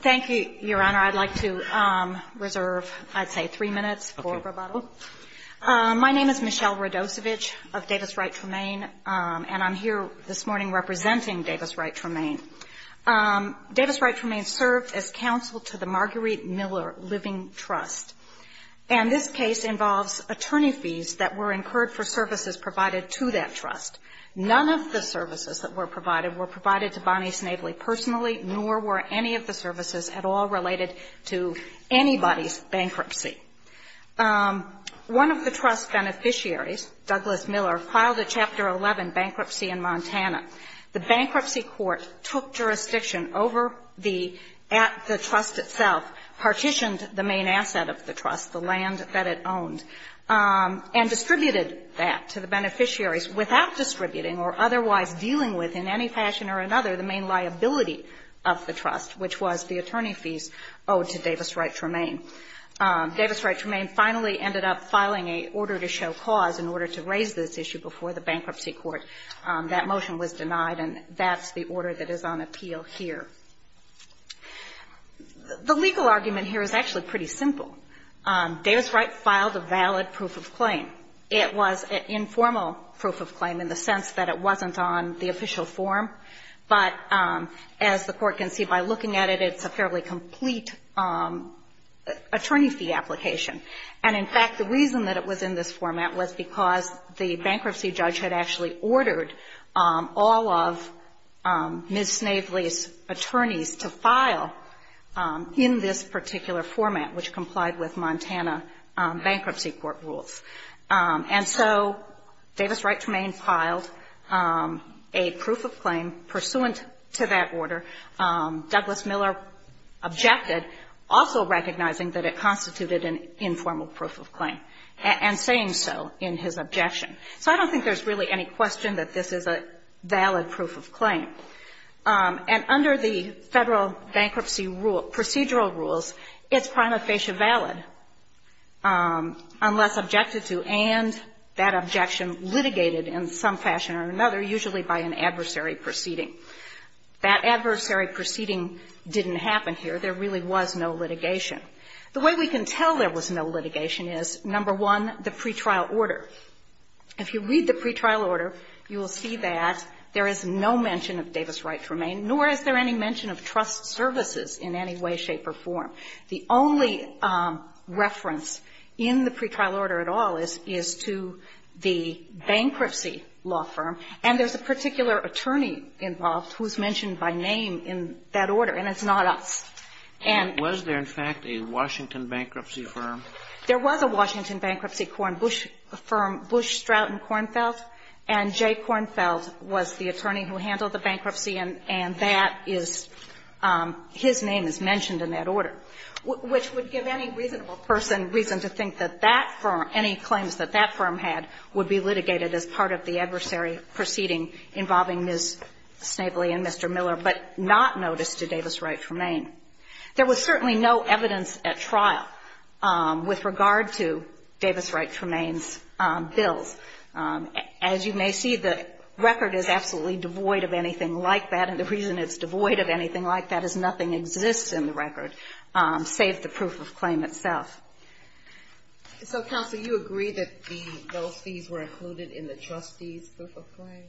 Thank you, Your Honor. I'd like to reserve, I'd say, three minutes for rebuttal. My name is Michelle Radosevich of Davis Wright Tremain, and I'm here this morning representing Davis Wright Tremain. Davis Wright Tremain served as counsel to the Marguerite Miller Living Trust, and this case involves attorney fees that were incurred for services provided to that trust. None of the services that were provided were provided to Bonnie Snavely personally, nor were any of the services at all related to anybody's bankruptcy. One of the trust beneficiaries, Douglas Miller, filed a Chapter 11 bankruptcy in Montana. The bankruptcy court took jurisdiction over the trust itself, partitioned the main asset of the trust, the land that it owned, and distributed that to the beneficiaries without distributing or otherwise dealing with, in any fashion or another, the main liability of the trust, which was the attorney fees owed to Davis Wright Tremain. Davis Wright Tremain finally ended up filing an order to show cause in order to raise this issue before the bankruptcy court. That motion was denied, and that's the order that is on appeal here. The legal argument here is actually pretty simple. Davis Wright filed a valid proof of claim. It was an informal proof of claim in the sense that it wasn't on the official form, but as the Court can see by looking at it, it's a fairly complete attorney fee application. And, in fact, the reason that it was in this format was because the bankruptcy judge had actually ordered all of Ms. Snavely's attorneys to file in this particular format, which complied with Montana Bankruptcy Court rules. And so Davis Wright Tremain filed a proof of claim pursuant to that order. Douglas Miller objected, also recognizing that it constituted an informal proof of claim, and saying so in his objection. So I don't think there's really any question that this is a valid proof of claim. And under the Federal bankruptcy rule, procedural rules, it's prima facie valid, unless objected to and that objection litigated in some fashion or another, usually by an adversary proceeding. That adversary proceeding didn't happen here. There really was no litigation. The way we can tell there was no litigation is, number one, the pretrial order. If you read the pretrial order, you will see that there is no mention of Davis Wright Tremain, nor is there any mention of trust services in any way, shape or form. The only reference in the pretrial order at all is to the bankruptcy law firm, and there's a particular attorney involved who is mentioned by name in that order, and it's not us. And was there, in fact, a Washington bankruptcy firm? There was a Washington bankruptcy firm, Bush Stroud and Kornfeldt, and Jay Kornfeldt was the attorney who handled the bankruptcy, and that is his name is mentioned in that order, which would give any reasonable person reason to think that that firm any claims that that firm had would be litigated as part of the adversary proceeding involving Ms. Snavely and Mr. Miller, but not noticed to Davis Wright Tremain. There was certainly no evidence at trial with regard to Davis Wright Tremain's bills. As you may see, the record is absolutely devoid of anything like that, and the reason it's devoid of anything like that is nothing exists in the record, save the proof of claim itself. So, Counsel, you agree that those fees were included in the trustee's proof of claim?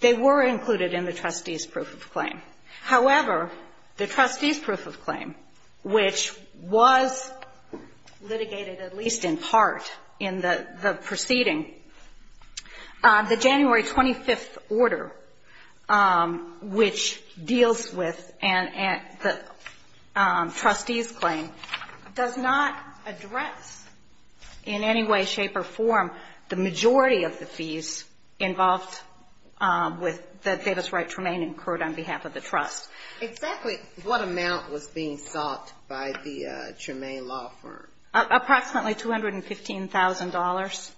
They were included in the trustee's proof of claim. However, the trustee's proof of claim, which was litigated at least in part in the proceeding, the January 25th order, which deals with the trustee's claim, does not address in any way, shape, or form the majority of the fees involved with the Davis Wright Tremain incurred on behalf of the trust. Exactly what amount was being sought by the Tremain law firm? Approximately $215,000.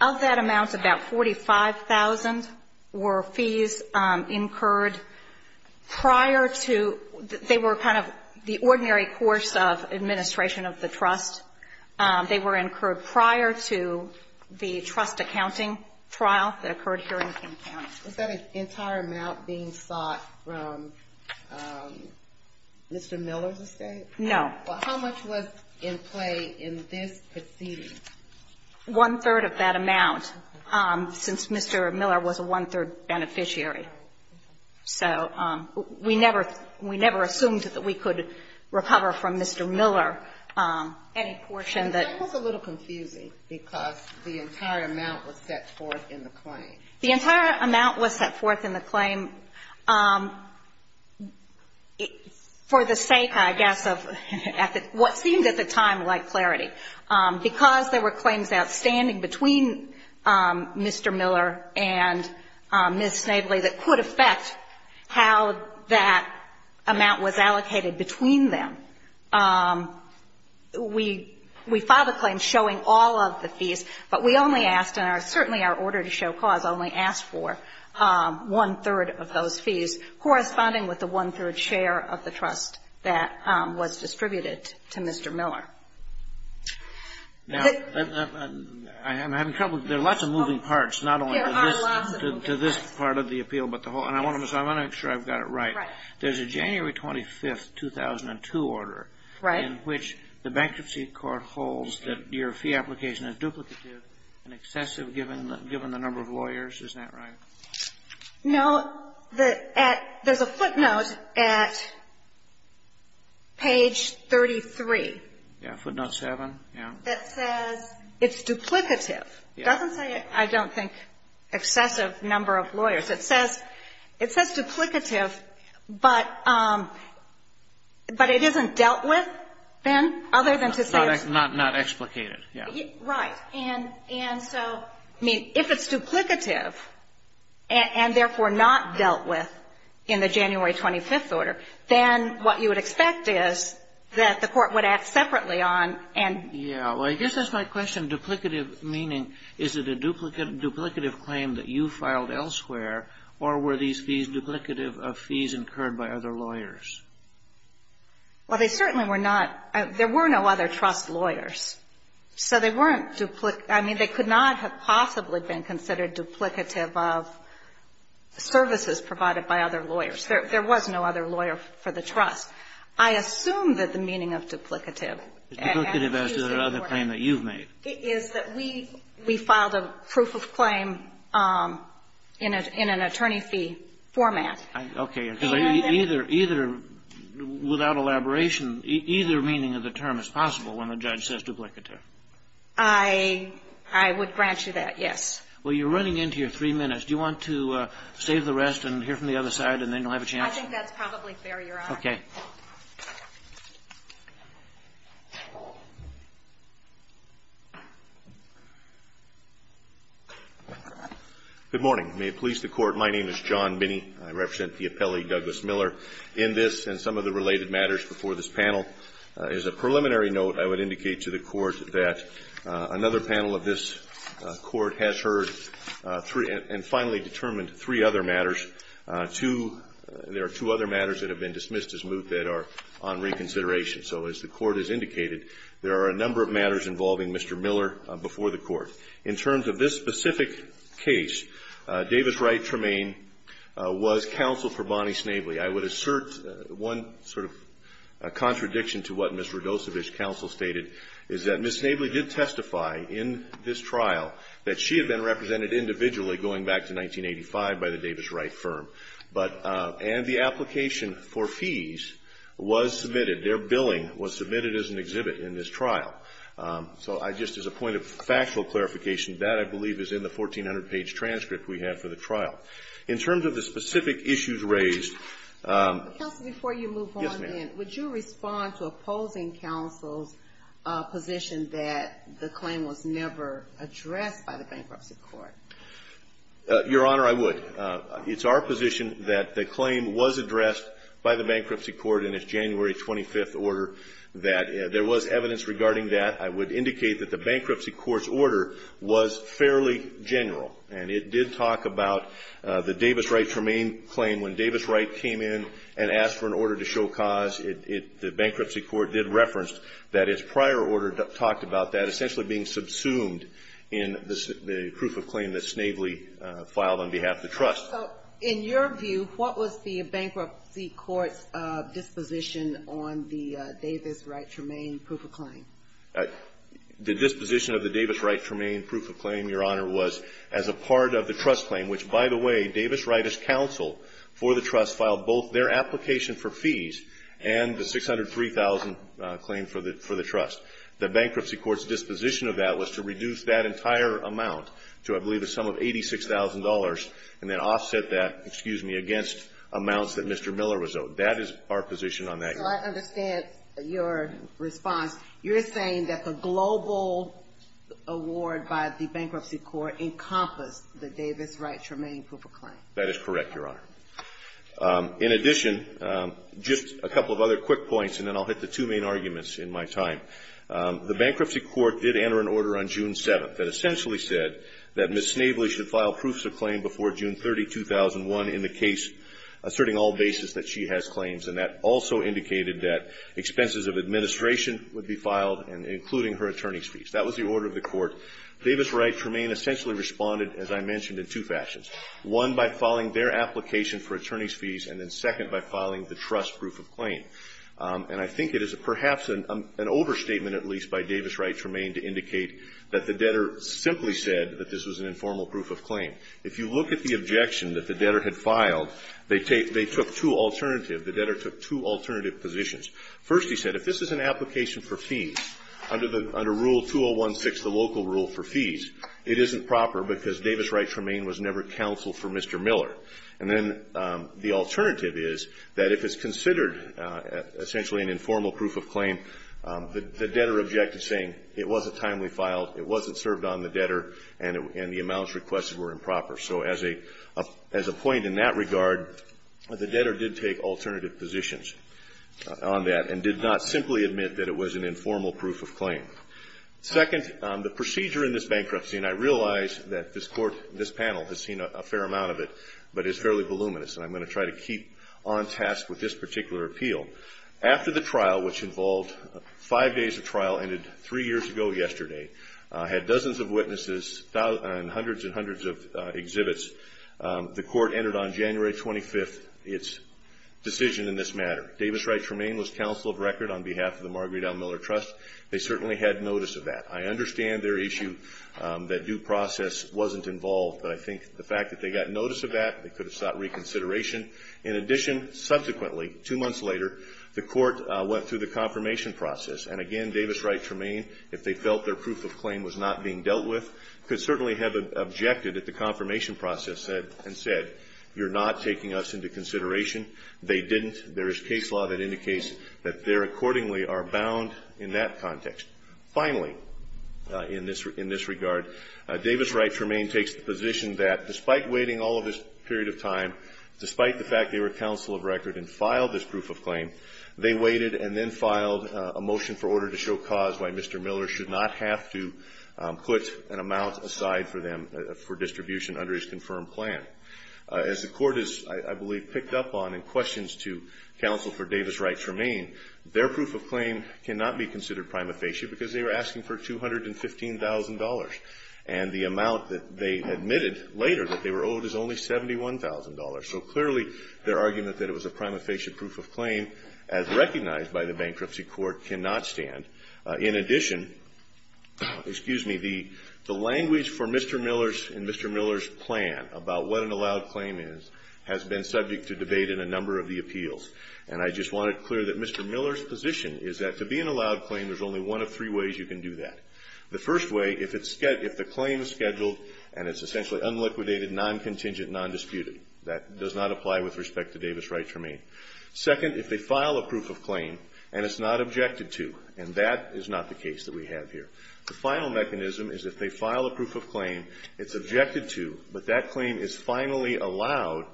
Of that amount, about $45,000 were fees incurred prior to they were kind of the ordinary course of administration of the trust. They were incurred prior to the trust accounting trial that occurred here in King County. Was that an entire amount being sought from Mr. Miller's estate? No. Well, how much was in play in this proceeding? One-third of that amount, since Mr. Miller was a one-third beneficiary. So we never assumed that we could recover from Mr. Miller any portion that ---- That was a little confusing, because the entire amount was set forth in the claim. The entire amount was set forth in the claim for the sake, I guess, of what seemed at the time like clarity. Because there were claims outstanding between Mr. Miller and Ms. Snavely that could affect how that amount was allocated between them, we filed a claim showing all of the fees, but we only asked, and certainly our order to show cause only asked for one-third of those fees, corresponding with the one-third share of the trust that was distributed to Mr. Miller. Now, I'm having trouble. There are lots of moving parts, not only to this part of the appeal, but the whole. And I want to make sure I've got it right. Right. There's a January 25, 2002, order in which the bankruptcy court holds that your fee application is duplicative and excessive given the number of lawyers. Isn't that right? No. There's a footnote at page 33. Footnote 7. That says it's duplicative. It doesn't say, I don't think, excessive number of lawyers. It says duplicative, but it isn't dealt with, Ben, other than to say it's duplicated. Not explicated. Right. And so, I mean, if it's duplicative, and therefore not dealt with in the January 25th order, then what you would expect is that the court would act separately on and Yeah. Well, I guess that's my question. Duplicative meaning, is it a duplicative claim that you filed elsewhere, or were these fees duplicative of fees incurred by other lawyers? Well, they certainly were not. There were no other trust lawyers. So they weren't duplicative. I mean, they could not have possibly been considered duplicative of services provided by other lawyers. There was no other lawyer for the trust. I assume that the meaning of duplicative is that we filed a proof of claim in an attorney fee format. Okay. Because either, without elaboration, either meaning of the term is possible when a judge says duplicative. I would grant you that, yes. Well, you're running into your three minutes. Do you want to save the rest and hear from the other side, and then you'll have a chance? I think that's probably fair, Your Honor. Okay. Good morning. May it please the Court, my name is John Binney. I represent the appellee, Douglas Miller. In this, and some of the related matters before this panel, is a preliminary note I would indicate to the Court that another panel of this Court has heard three and finally determined three other matters. Two, there are two other matters that have been dismissed as moot that are on reconsideration. So as the Court has indicated, there are a number of matters involving Mr. Miller before the Court. In terms of this specific case, Davis Wright Tremaine was counsel for Bonnie Snavely. I would assert one sort of contradiction to what Ms. Rudosevich's counsel stated is that Ms. Snavely did testify in this trial that she had been represented individually going back to 1985 by the Davis Wright firm. But, and the application for fees was submitted. Their billing was submitted as an exhibit in this trial. So I just, as a point of factual clarification, that I believe is in the 1,400-page transcript we have for the trial. In terms of the specific issues raised ---- Counsel, before you move on then, would you respond to opposing counsel's position that the claim was never addressed by the Bankruptcy Court? Your Honor, I would. It's our position that the claim was addressed by the Bankruptcy Court in its January 25th order, that there was evidence regarding that. I would indicate that the Bankruptcy Court's order was fairly general, and it did talk about the Davis Wright Tremain claim. When Davis Wright came in and asked for an order to show cause, the Bankruptcy Court did reference that its prior order talked about that essentially being subsumed in the proof of claim that Snavely filed on behalf of the trust. So in your view, what was the Bankruptcy Court's disposition on the Davis Wright Tremain proof of claim? The disposition of the Davis Wright Tremain proof of claim, Your Honor, was as a part of the trust claim, which, by the way, Davis Wright's counsel for the trust filed both their application for fees and the $603,000 claim for the trust. The Bankruptcy Court's disposition of that was to reduce that entire amount to, I believe, a sum of $86,000 and then offset that, excuse me, against amounts that Mr. Miller was owed. That is our position on that. So I understand your response. You're saying that the global award by the Bankruptcy Court encompassed the Davis Wright Tremain proof of claim. That is correct, Your Honor. In addition, just a couple of other quick points, and then I'll hit the two main arguments in my time. The Bankruptcy Court did enter an order on June 7th that essentially said that Ms. Snavely should file proofs of claim before June 30, 2001 in the case asserting all basis that she has claims. And that also indicated that expenses of administration would be filed and including her attorney's fees. That was the order of the Court. Davis Wright Tremain essentially responded, as I mentioned, in two fashions, one, by filing their application for attorney's fees, and then second, by filing the trust proof of claim. And I think it is perhaps an overstatement, at least, by Davis Wright Tremain to indicate that the debtor simply said that this was an informal proof of claim. If you look at the objection that the debtor had filed, they took two alternatives. The debtor took two alternative positions. First, he said, if this is an application for fees, under Rule 201-6, the local rule for fees, it isn't proper because Davis Wright Tremain was never counseled for Mr. Miller. And then the alternative is that if it's considered essentially an informal proof of claim, the debtor objected, saying it wasn't timely filed, it wasn't served on the debtor, and the amounts requested were improper. So as a point in that regard, the debtor did take alternative positions on that and did not simply admit that it was an informal proof of claim. Second, the procedure in this bankruptcy, and I realize that this Court, this panel has seen a fair amount of it, but it's fairly voluminous, and I'm going to try to keep on task with this particular appeal. After the trial, which involved five days of trial, ended three years ago yesterday, had dozens of witnesses and hundreds and hundreds of exhibits. The Court entered on January 25th its decision in this matter. Davis Wright Tremain was counsel of record on behalf of the Marguerite L. Miller Trust. They certainly had notice of that. I understand their issue, that due process wasn't involved, but I think the fact that they got notice of that, they could have sought reconsideration. In addition, subsequently, two months later, the Court went through the confirmation process. And again, Davis Wright Tremain, if they felt their proof of claim was not being dealt with, could certainly have objected at the confirmation process and said, you're not taking us into consideration. They didn't. There is case law that indicates that they accordingly are bound in that context. Finally, in this regard, Davis Wright Tremain takes the position that, despite waiting all of this period of time, despite the fact they were counsel of record and filed this proof of claim, they waited and then filed a motion for order to show cause why Mr. Miller should not have to put an amount aside for them for distribution under his confirmed plan. As the Court has, I believe, picked up on in questions to counsel for Davis Wright Tremain, their proof of claim cannot be considered prima facie because they were asking for $215,000. And the amount that they admitted later that they were owed is only $71,000. So clearly, their argument that it was a prima facie proof of claim, as recognized by the Bankruptcy Court, cannot stand. In addition, excuse me, the language for Mr. Miller's and Mr. Miller's plan about what an allowed claim is has been subject to debate in a number of the appeals. And I just want to clear that Mr. Miller's position is that to be an allowed claim, there's only one of three ways you can do that. The first way, if the claim is scheduled and it's essentially unliquidated, non-contingent, non-disputed. That does not apply with respect to Davis Wright Tremain. Second, if they file a proof of claim and it's not objected to, and that is not the case that we have here. The final mechanism is if they file a proof of claim, it's objected to, but that claim is finally allowed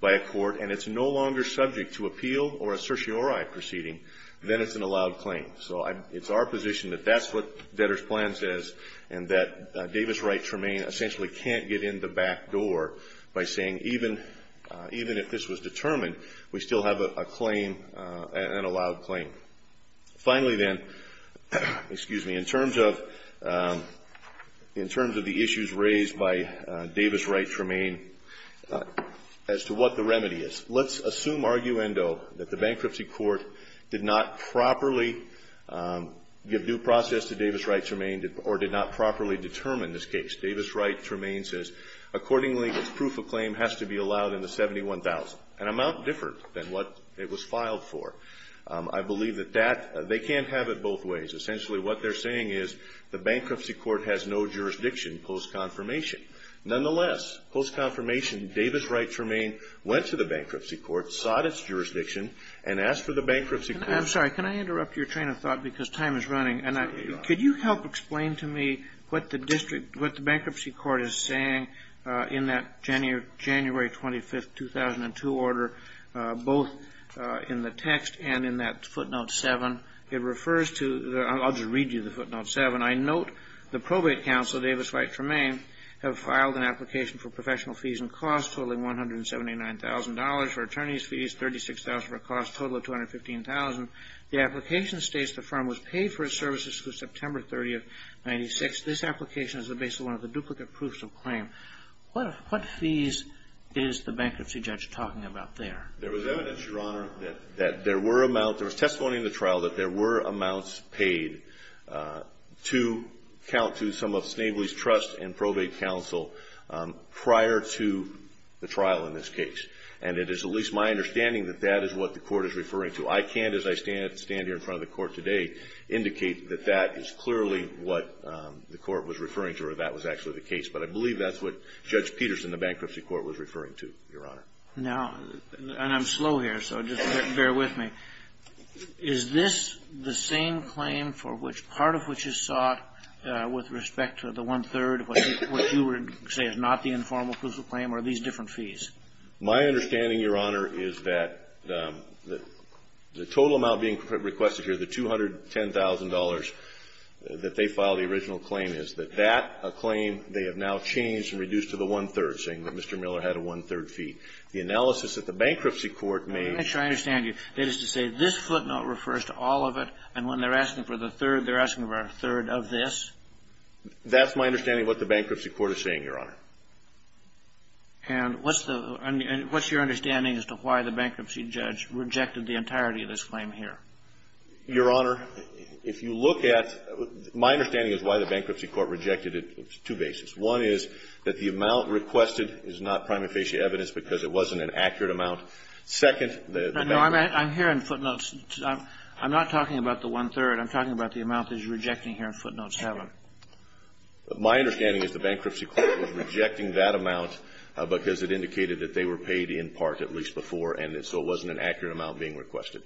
by a court and it's no longer subject to appeal or a certiorari proceeding, then it's an allowed claim. So it's our position that that's what Vedder's plan says and that Davis Wright Tremain essentially can't get in the back door by saying even if this was determined, we still have a claim, an allowed claim. Finally, then, excuse me, in terms of the issues raised by Davis Wright Tremain, as to what the remedy is. Let's assume, arguendo, that the bankruptcy court did not properly give due process to Davis Wright Tremain or did not properly determine this case. Davis Wright Tremain says, accordingly, this proof of claim has to be allowed in the 71,000, an amount different than what it was filed for. I believe that that they can't have it both ways. Essentially, what they're saying is the bankruptcy court has no jurisdiction post-confirmation. Nonetheless, post-confirmation, Davis Wright Tremain went to the bankruptcy Could you help explain to me what the bankruptcy court is saying in that January 25, 2002 order, both in the text and in that footnote 7? It refers to, I'll just read you the footnote 7. I note the probate counsel, Davis Wright Tremain, have filed an application for professional fees and costs totaling $179,000 for attorney's fees, $36,000 for costs totaling $215,000. The application states the firm was paid for its services through September 30, 1996. This application is based on one of the duplicate proofs of claim. What fees is the bankruptcy judge talking about there? There was evidence, Your Honor, that there were amounts. There was testimony in the trial that there were amounts paid to count to some of Snavely's trust and probate counsel prior to the trial in this case. I can't, as I stand here in front of the Court today, indicate that that is clearly what the Court was referring to or that was actually the case. But I believe that's what Judge Peterson, the bankruptcy court, was referring to, Your Honor. Now, and I'm slow here, so just bear with me. Is this the same claim for which part of which is sought with respect to the one-third of what you would say is not the informal proof of claim or these different My understanding, Your Honor, is that the total amount being requested here, the $210,000 that they filed the original claim, is that that claim they have now changed and reduced to the one-third, saying that Mr. Miller had a one-third fee. The analysis that the bankruptcy court made Let me try to understand you. That is to say, this footnote refers to all of it, and when they're asking for the third, they're asking for a third of this? That's my understanding of what the bankruptcy court is saying, Your Honor. And what's your understanding as to why the bankruptcy judge rejected the entirety of this claim here? Your Honor, if you look at My understanding is why the bankruptcy court rejected it on two bases. One is that the amount requested is not prima facie evidence because it wasn't an accurate amount. Second, the bankruptcy No, I'm hearing footnotes. I'm not talking about the one-third. I'm talking about the amount that you're rejecting here in footnote 7. My understanding is the bankruptcy court was rejecting that amount because it indicated that they were paid in part, at least before, and so it wasn't an accurate amount being requested.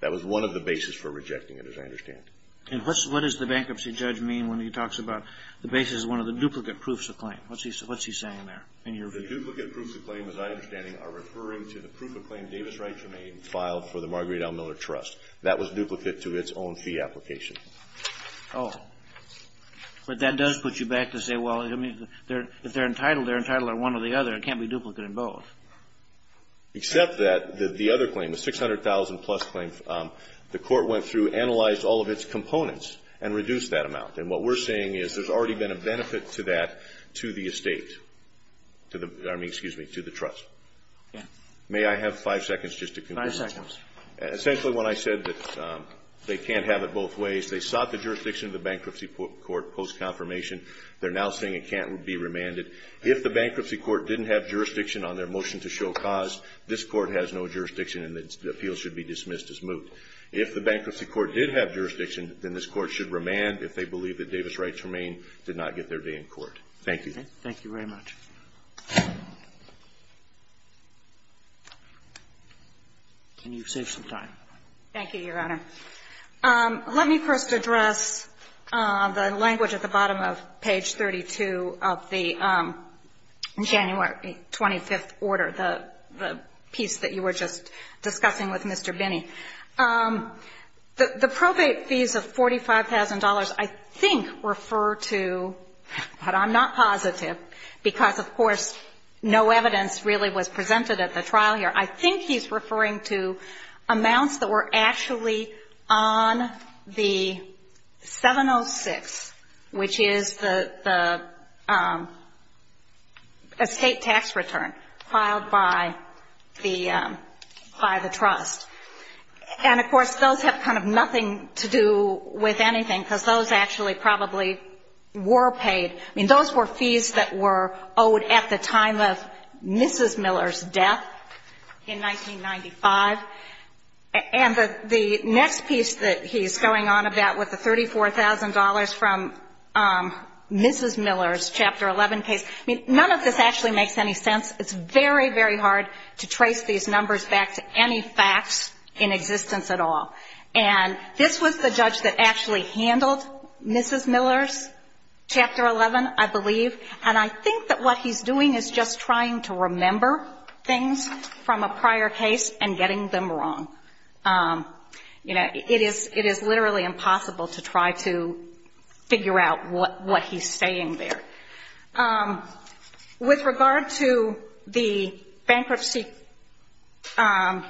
That was one of the bases for rejecting it, as I understand. And what does the bankruptcy judge mean when he talks about the basis of one of the duplicate proofs of claim? What's he saying there in your view? The duplicate proofs of claim, as I understand it, are referring to the proof of claim Davis Wright remained and filed for the Marguerite L. Miller Trust. That was duplicate to its own fee application. Oh. But that does put you back to say, well, I mean, if they're entitled, they're entitled on one or the other. It can't be duplicate in both. Except that the other claim, the $600,000-plus claim, the court went through, analyzed all of its components, and reduced that amount. And what we're saying is there's already been a benefit to that to the estate, to the, I mean, excuse me, to the trust. May I have five seconds just to conclude? Five seconds. Essentially, when I said that they can't have it both ways, they sought the jurisdiction of the Bankruptcy Court post-confirmation. They're now saying it can't be remanded. If the Bankruptcy Court didn't have jurisdiction on their motion to show cause, this Court has no jurisdiction and the appeal should be dismissed as moot. If the Bankruptcy Court did have jurisdiction, then this Court should remand if they believe that Davis Wright Germain did not get their day in court. Thank you. Thank you very much. Can you save some time? Thank you, Your Honor. Let me first address the language at the bottom of page 32 of the January 25th order, the piece that you were just discussing with Mr. Binney. The probate fees of $45,000 I think refer to, but I'm not positive, because of course no evidence really was presented at the trial here. I think he's referring to amounts that were actually on the 706, which is the estate tax return filed by the trust. And, of course, those have kind of nothing to do with anything, because those actually probably were paid. I mean, those were fees that were owed at the time of Mrs. Miller's death in 1995. And the next piece that he's going on about with the $34,000 from Mrs. Miller's Chapter 11 case, I mean, none of this actually makes any sense. It's very, very hard to trace these numbers back to any facts in existence at all. And this was the judge that actually handled Mrs. Miller's Chapter 11, I believe. And I think that what he's doing is just trying to remember things from a prior case and getting them wrong. You know, it is literally impossible to try to figure out what he's saying there. With regard to the bankruptcy, the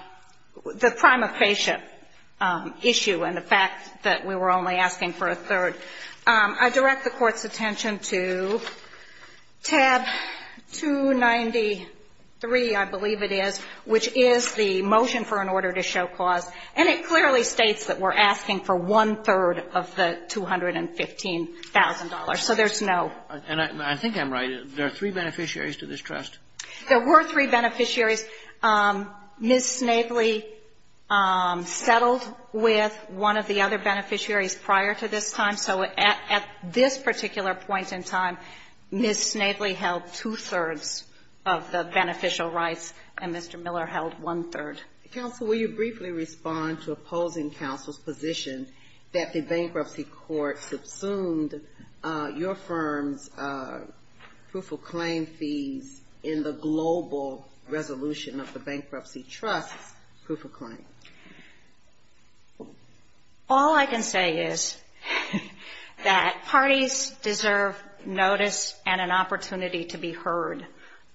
crime of paycheck issue and the fact that we were only asking for a third, I direct the Court's attention to tab 293, I believe it is, which is the motion for an order to show clause. And it clearly states that we're asking for one-third of the $215,000. So there's no ---- And I think I'm right. There are three beneficiaries to this trust. There were three beneficiaries. Ms. Snavely settled with one of the other beneficiaries prior to this time. So at this particular point in time, Ms. Snavely held two-thirds of the beneficial rights and Mr. Miller held one-third. Counsel, will you briefly respond to opposing counsel's position that the bankruptcy court subsumed your firm's proof-of-claim fees in the global resolution of the bankruptcy trust's proof-of-claim? All I can say is that parties deserve notice and an opportunity to be heard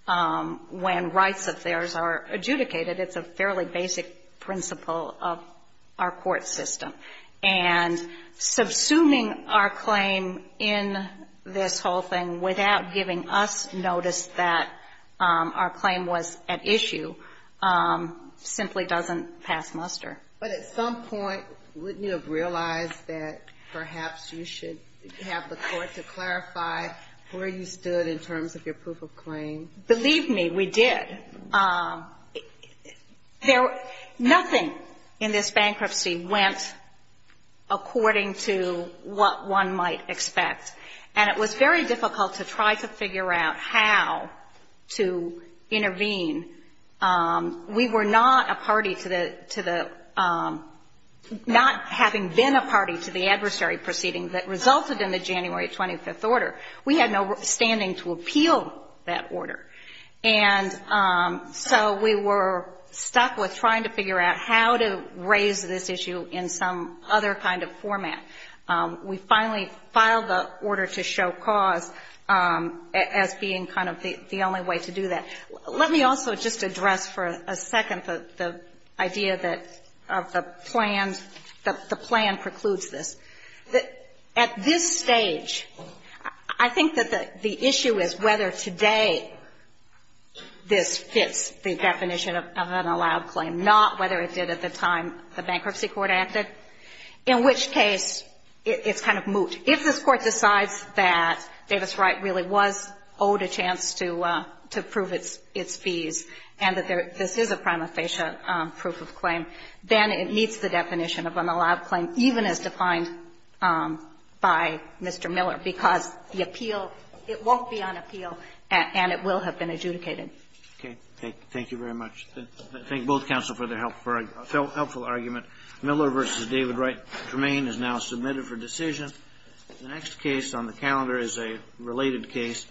when rights of theirs are adjudicated. It's a fairly basic principle of our court system. And subsuming our claim in this whole thing without giving us notice that our claim was at issue simply doesn't pass muster. But at some point, wouldn't you have realized that perhaps you should have the court to clarify where you stood in terms of your proof-of-claim? Believe me, we did. Nothing in this bankruptcy went according to what one might expect. And it was very difficult to try to figure out how to intervene. We were not a party to the not having been a party to the adversary proceeding that resulted in the January 25th order. We had no standing to appeal that order. And so we were stuck with trying to figure out how to raise this issue in some other kind of format. We finally filed the order to show cause as being kind of the only way to do that. Let me also just address for a second the idea that the plan precludes this. At this stage, I think that the issue is whether today this fits the definition of an allowed claim, not whether it did at the time the bankruptcy court acted, in which case it's kind of moot. If this court decides that Davis Wright really was owed a chance to prove its fees and that this is a prima facie proof-of-claim, then it meets the definition of an allowed claim, even as defined by Mr. Miller, because the appeal, it won't be on appeal and it will have been adjudicated. Okay. Thank you very much. I thank both counsel for their helpful argument. Miller v. David Wright. Germain is now submitted for decision. The next case on the calendar is a related case.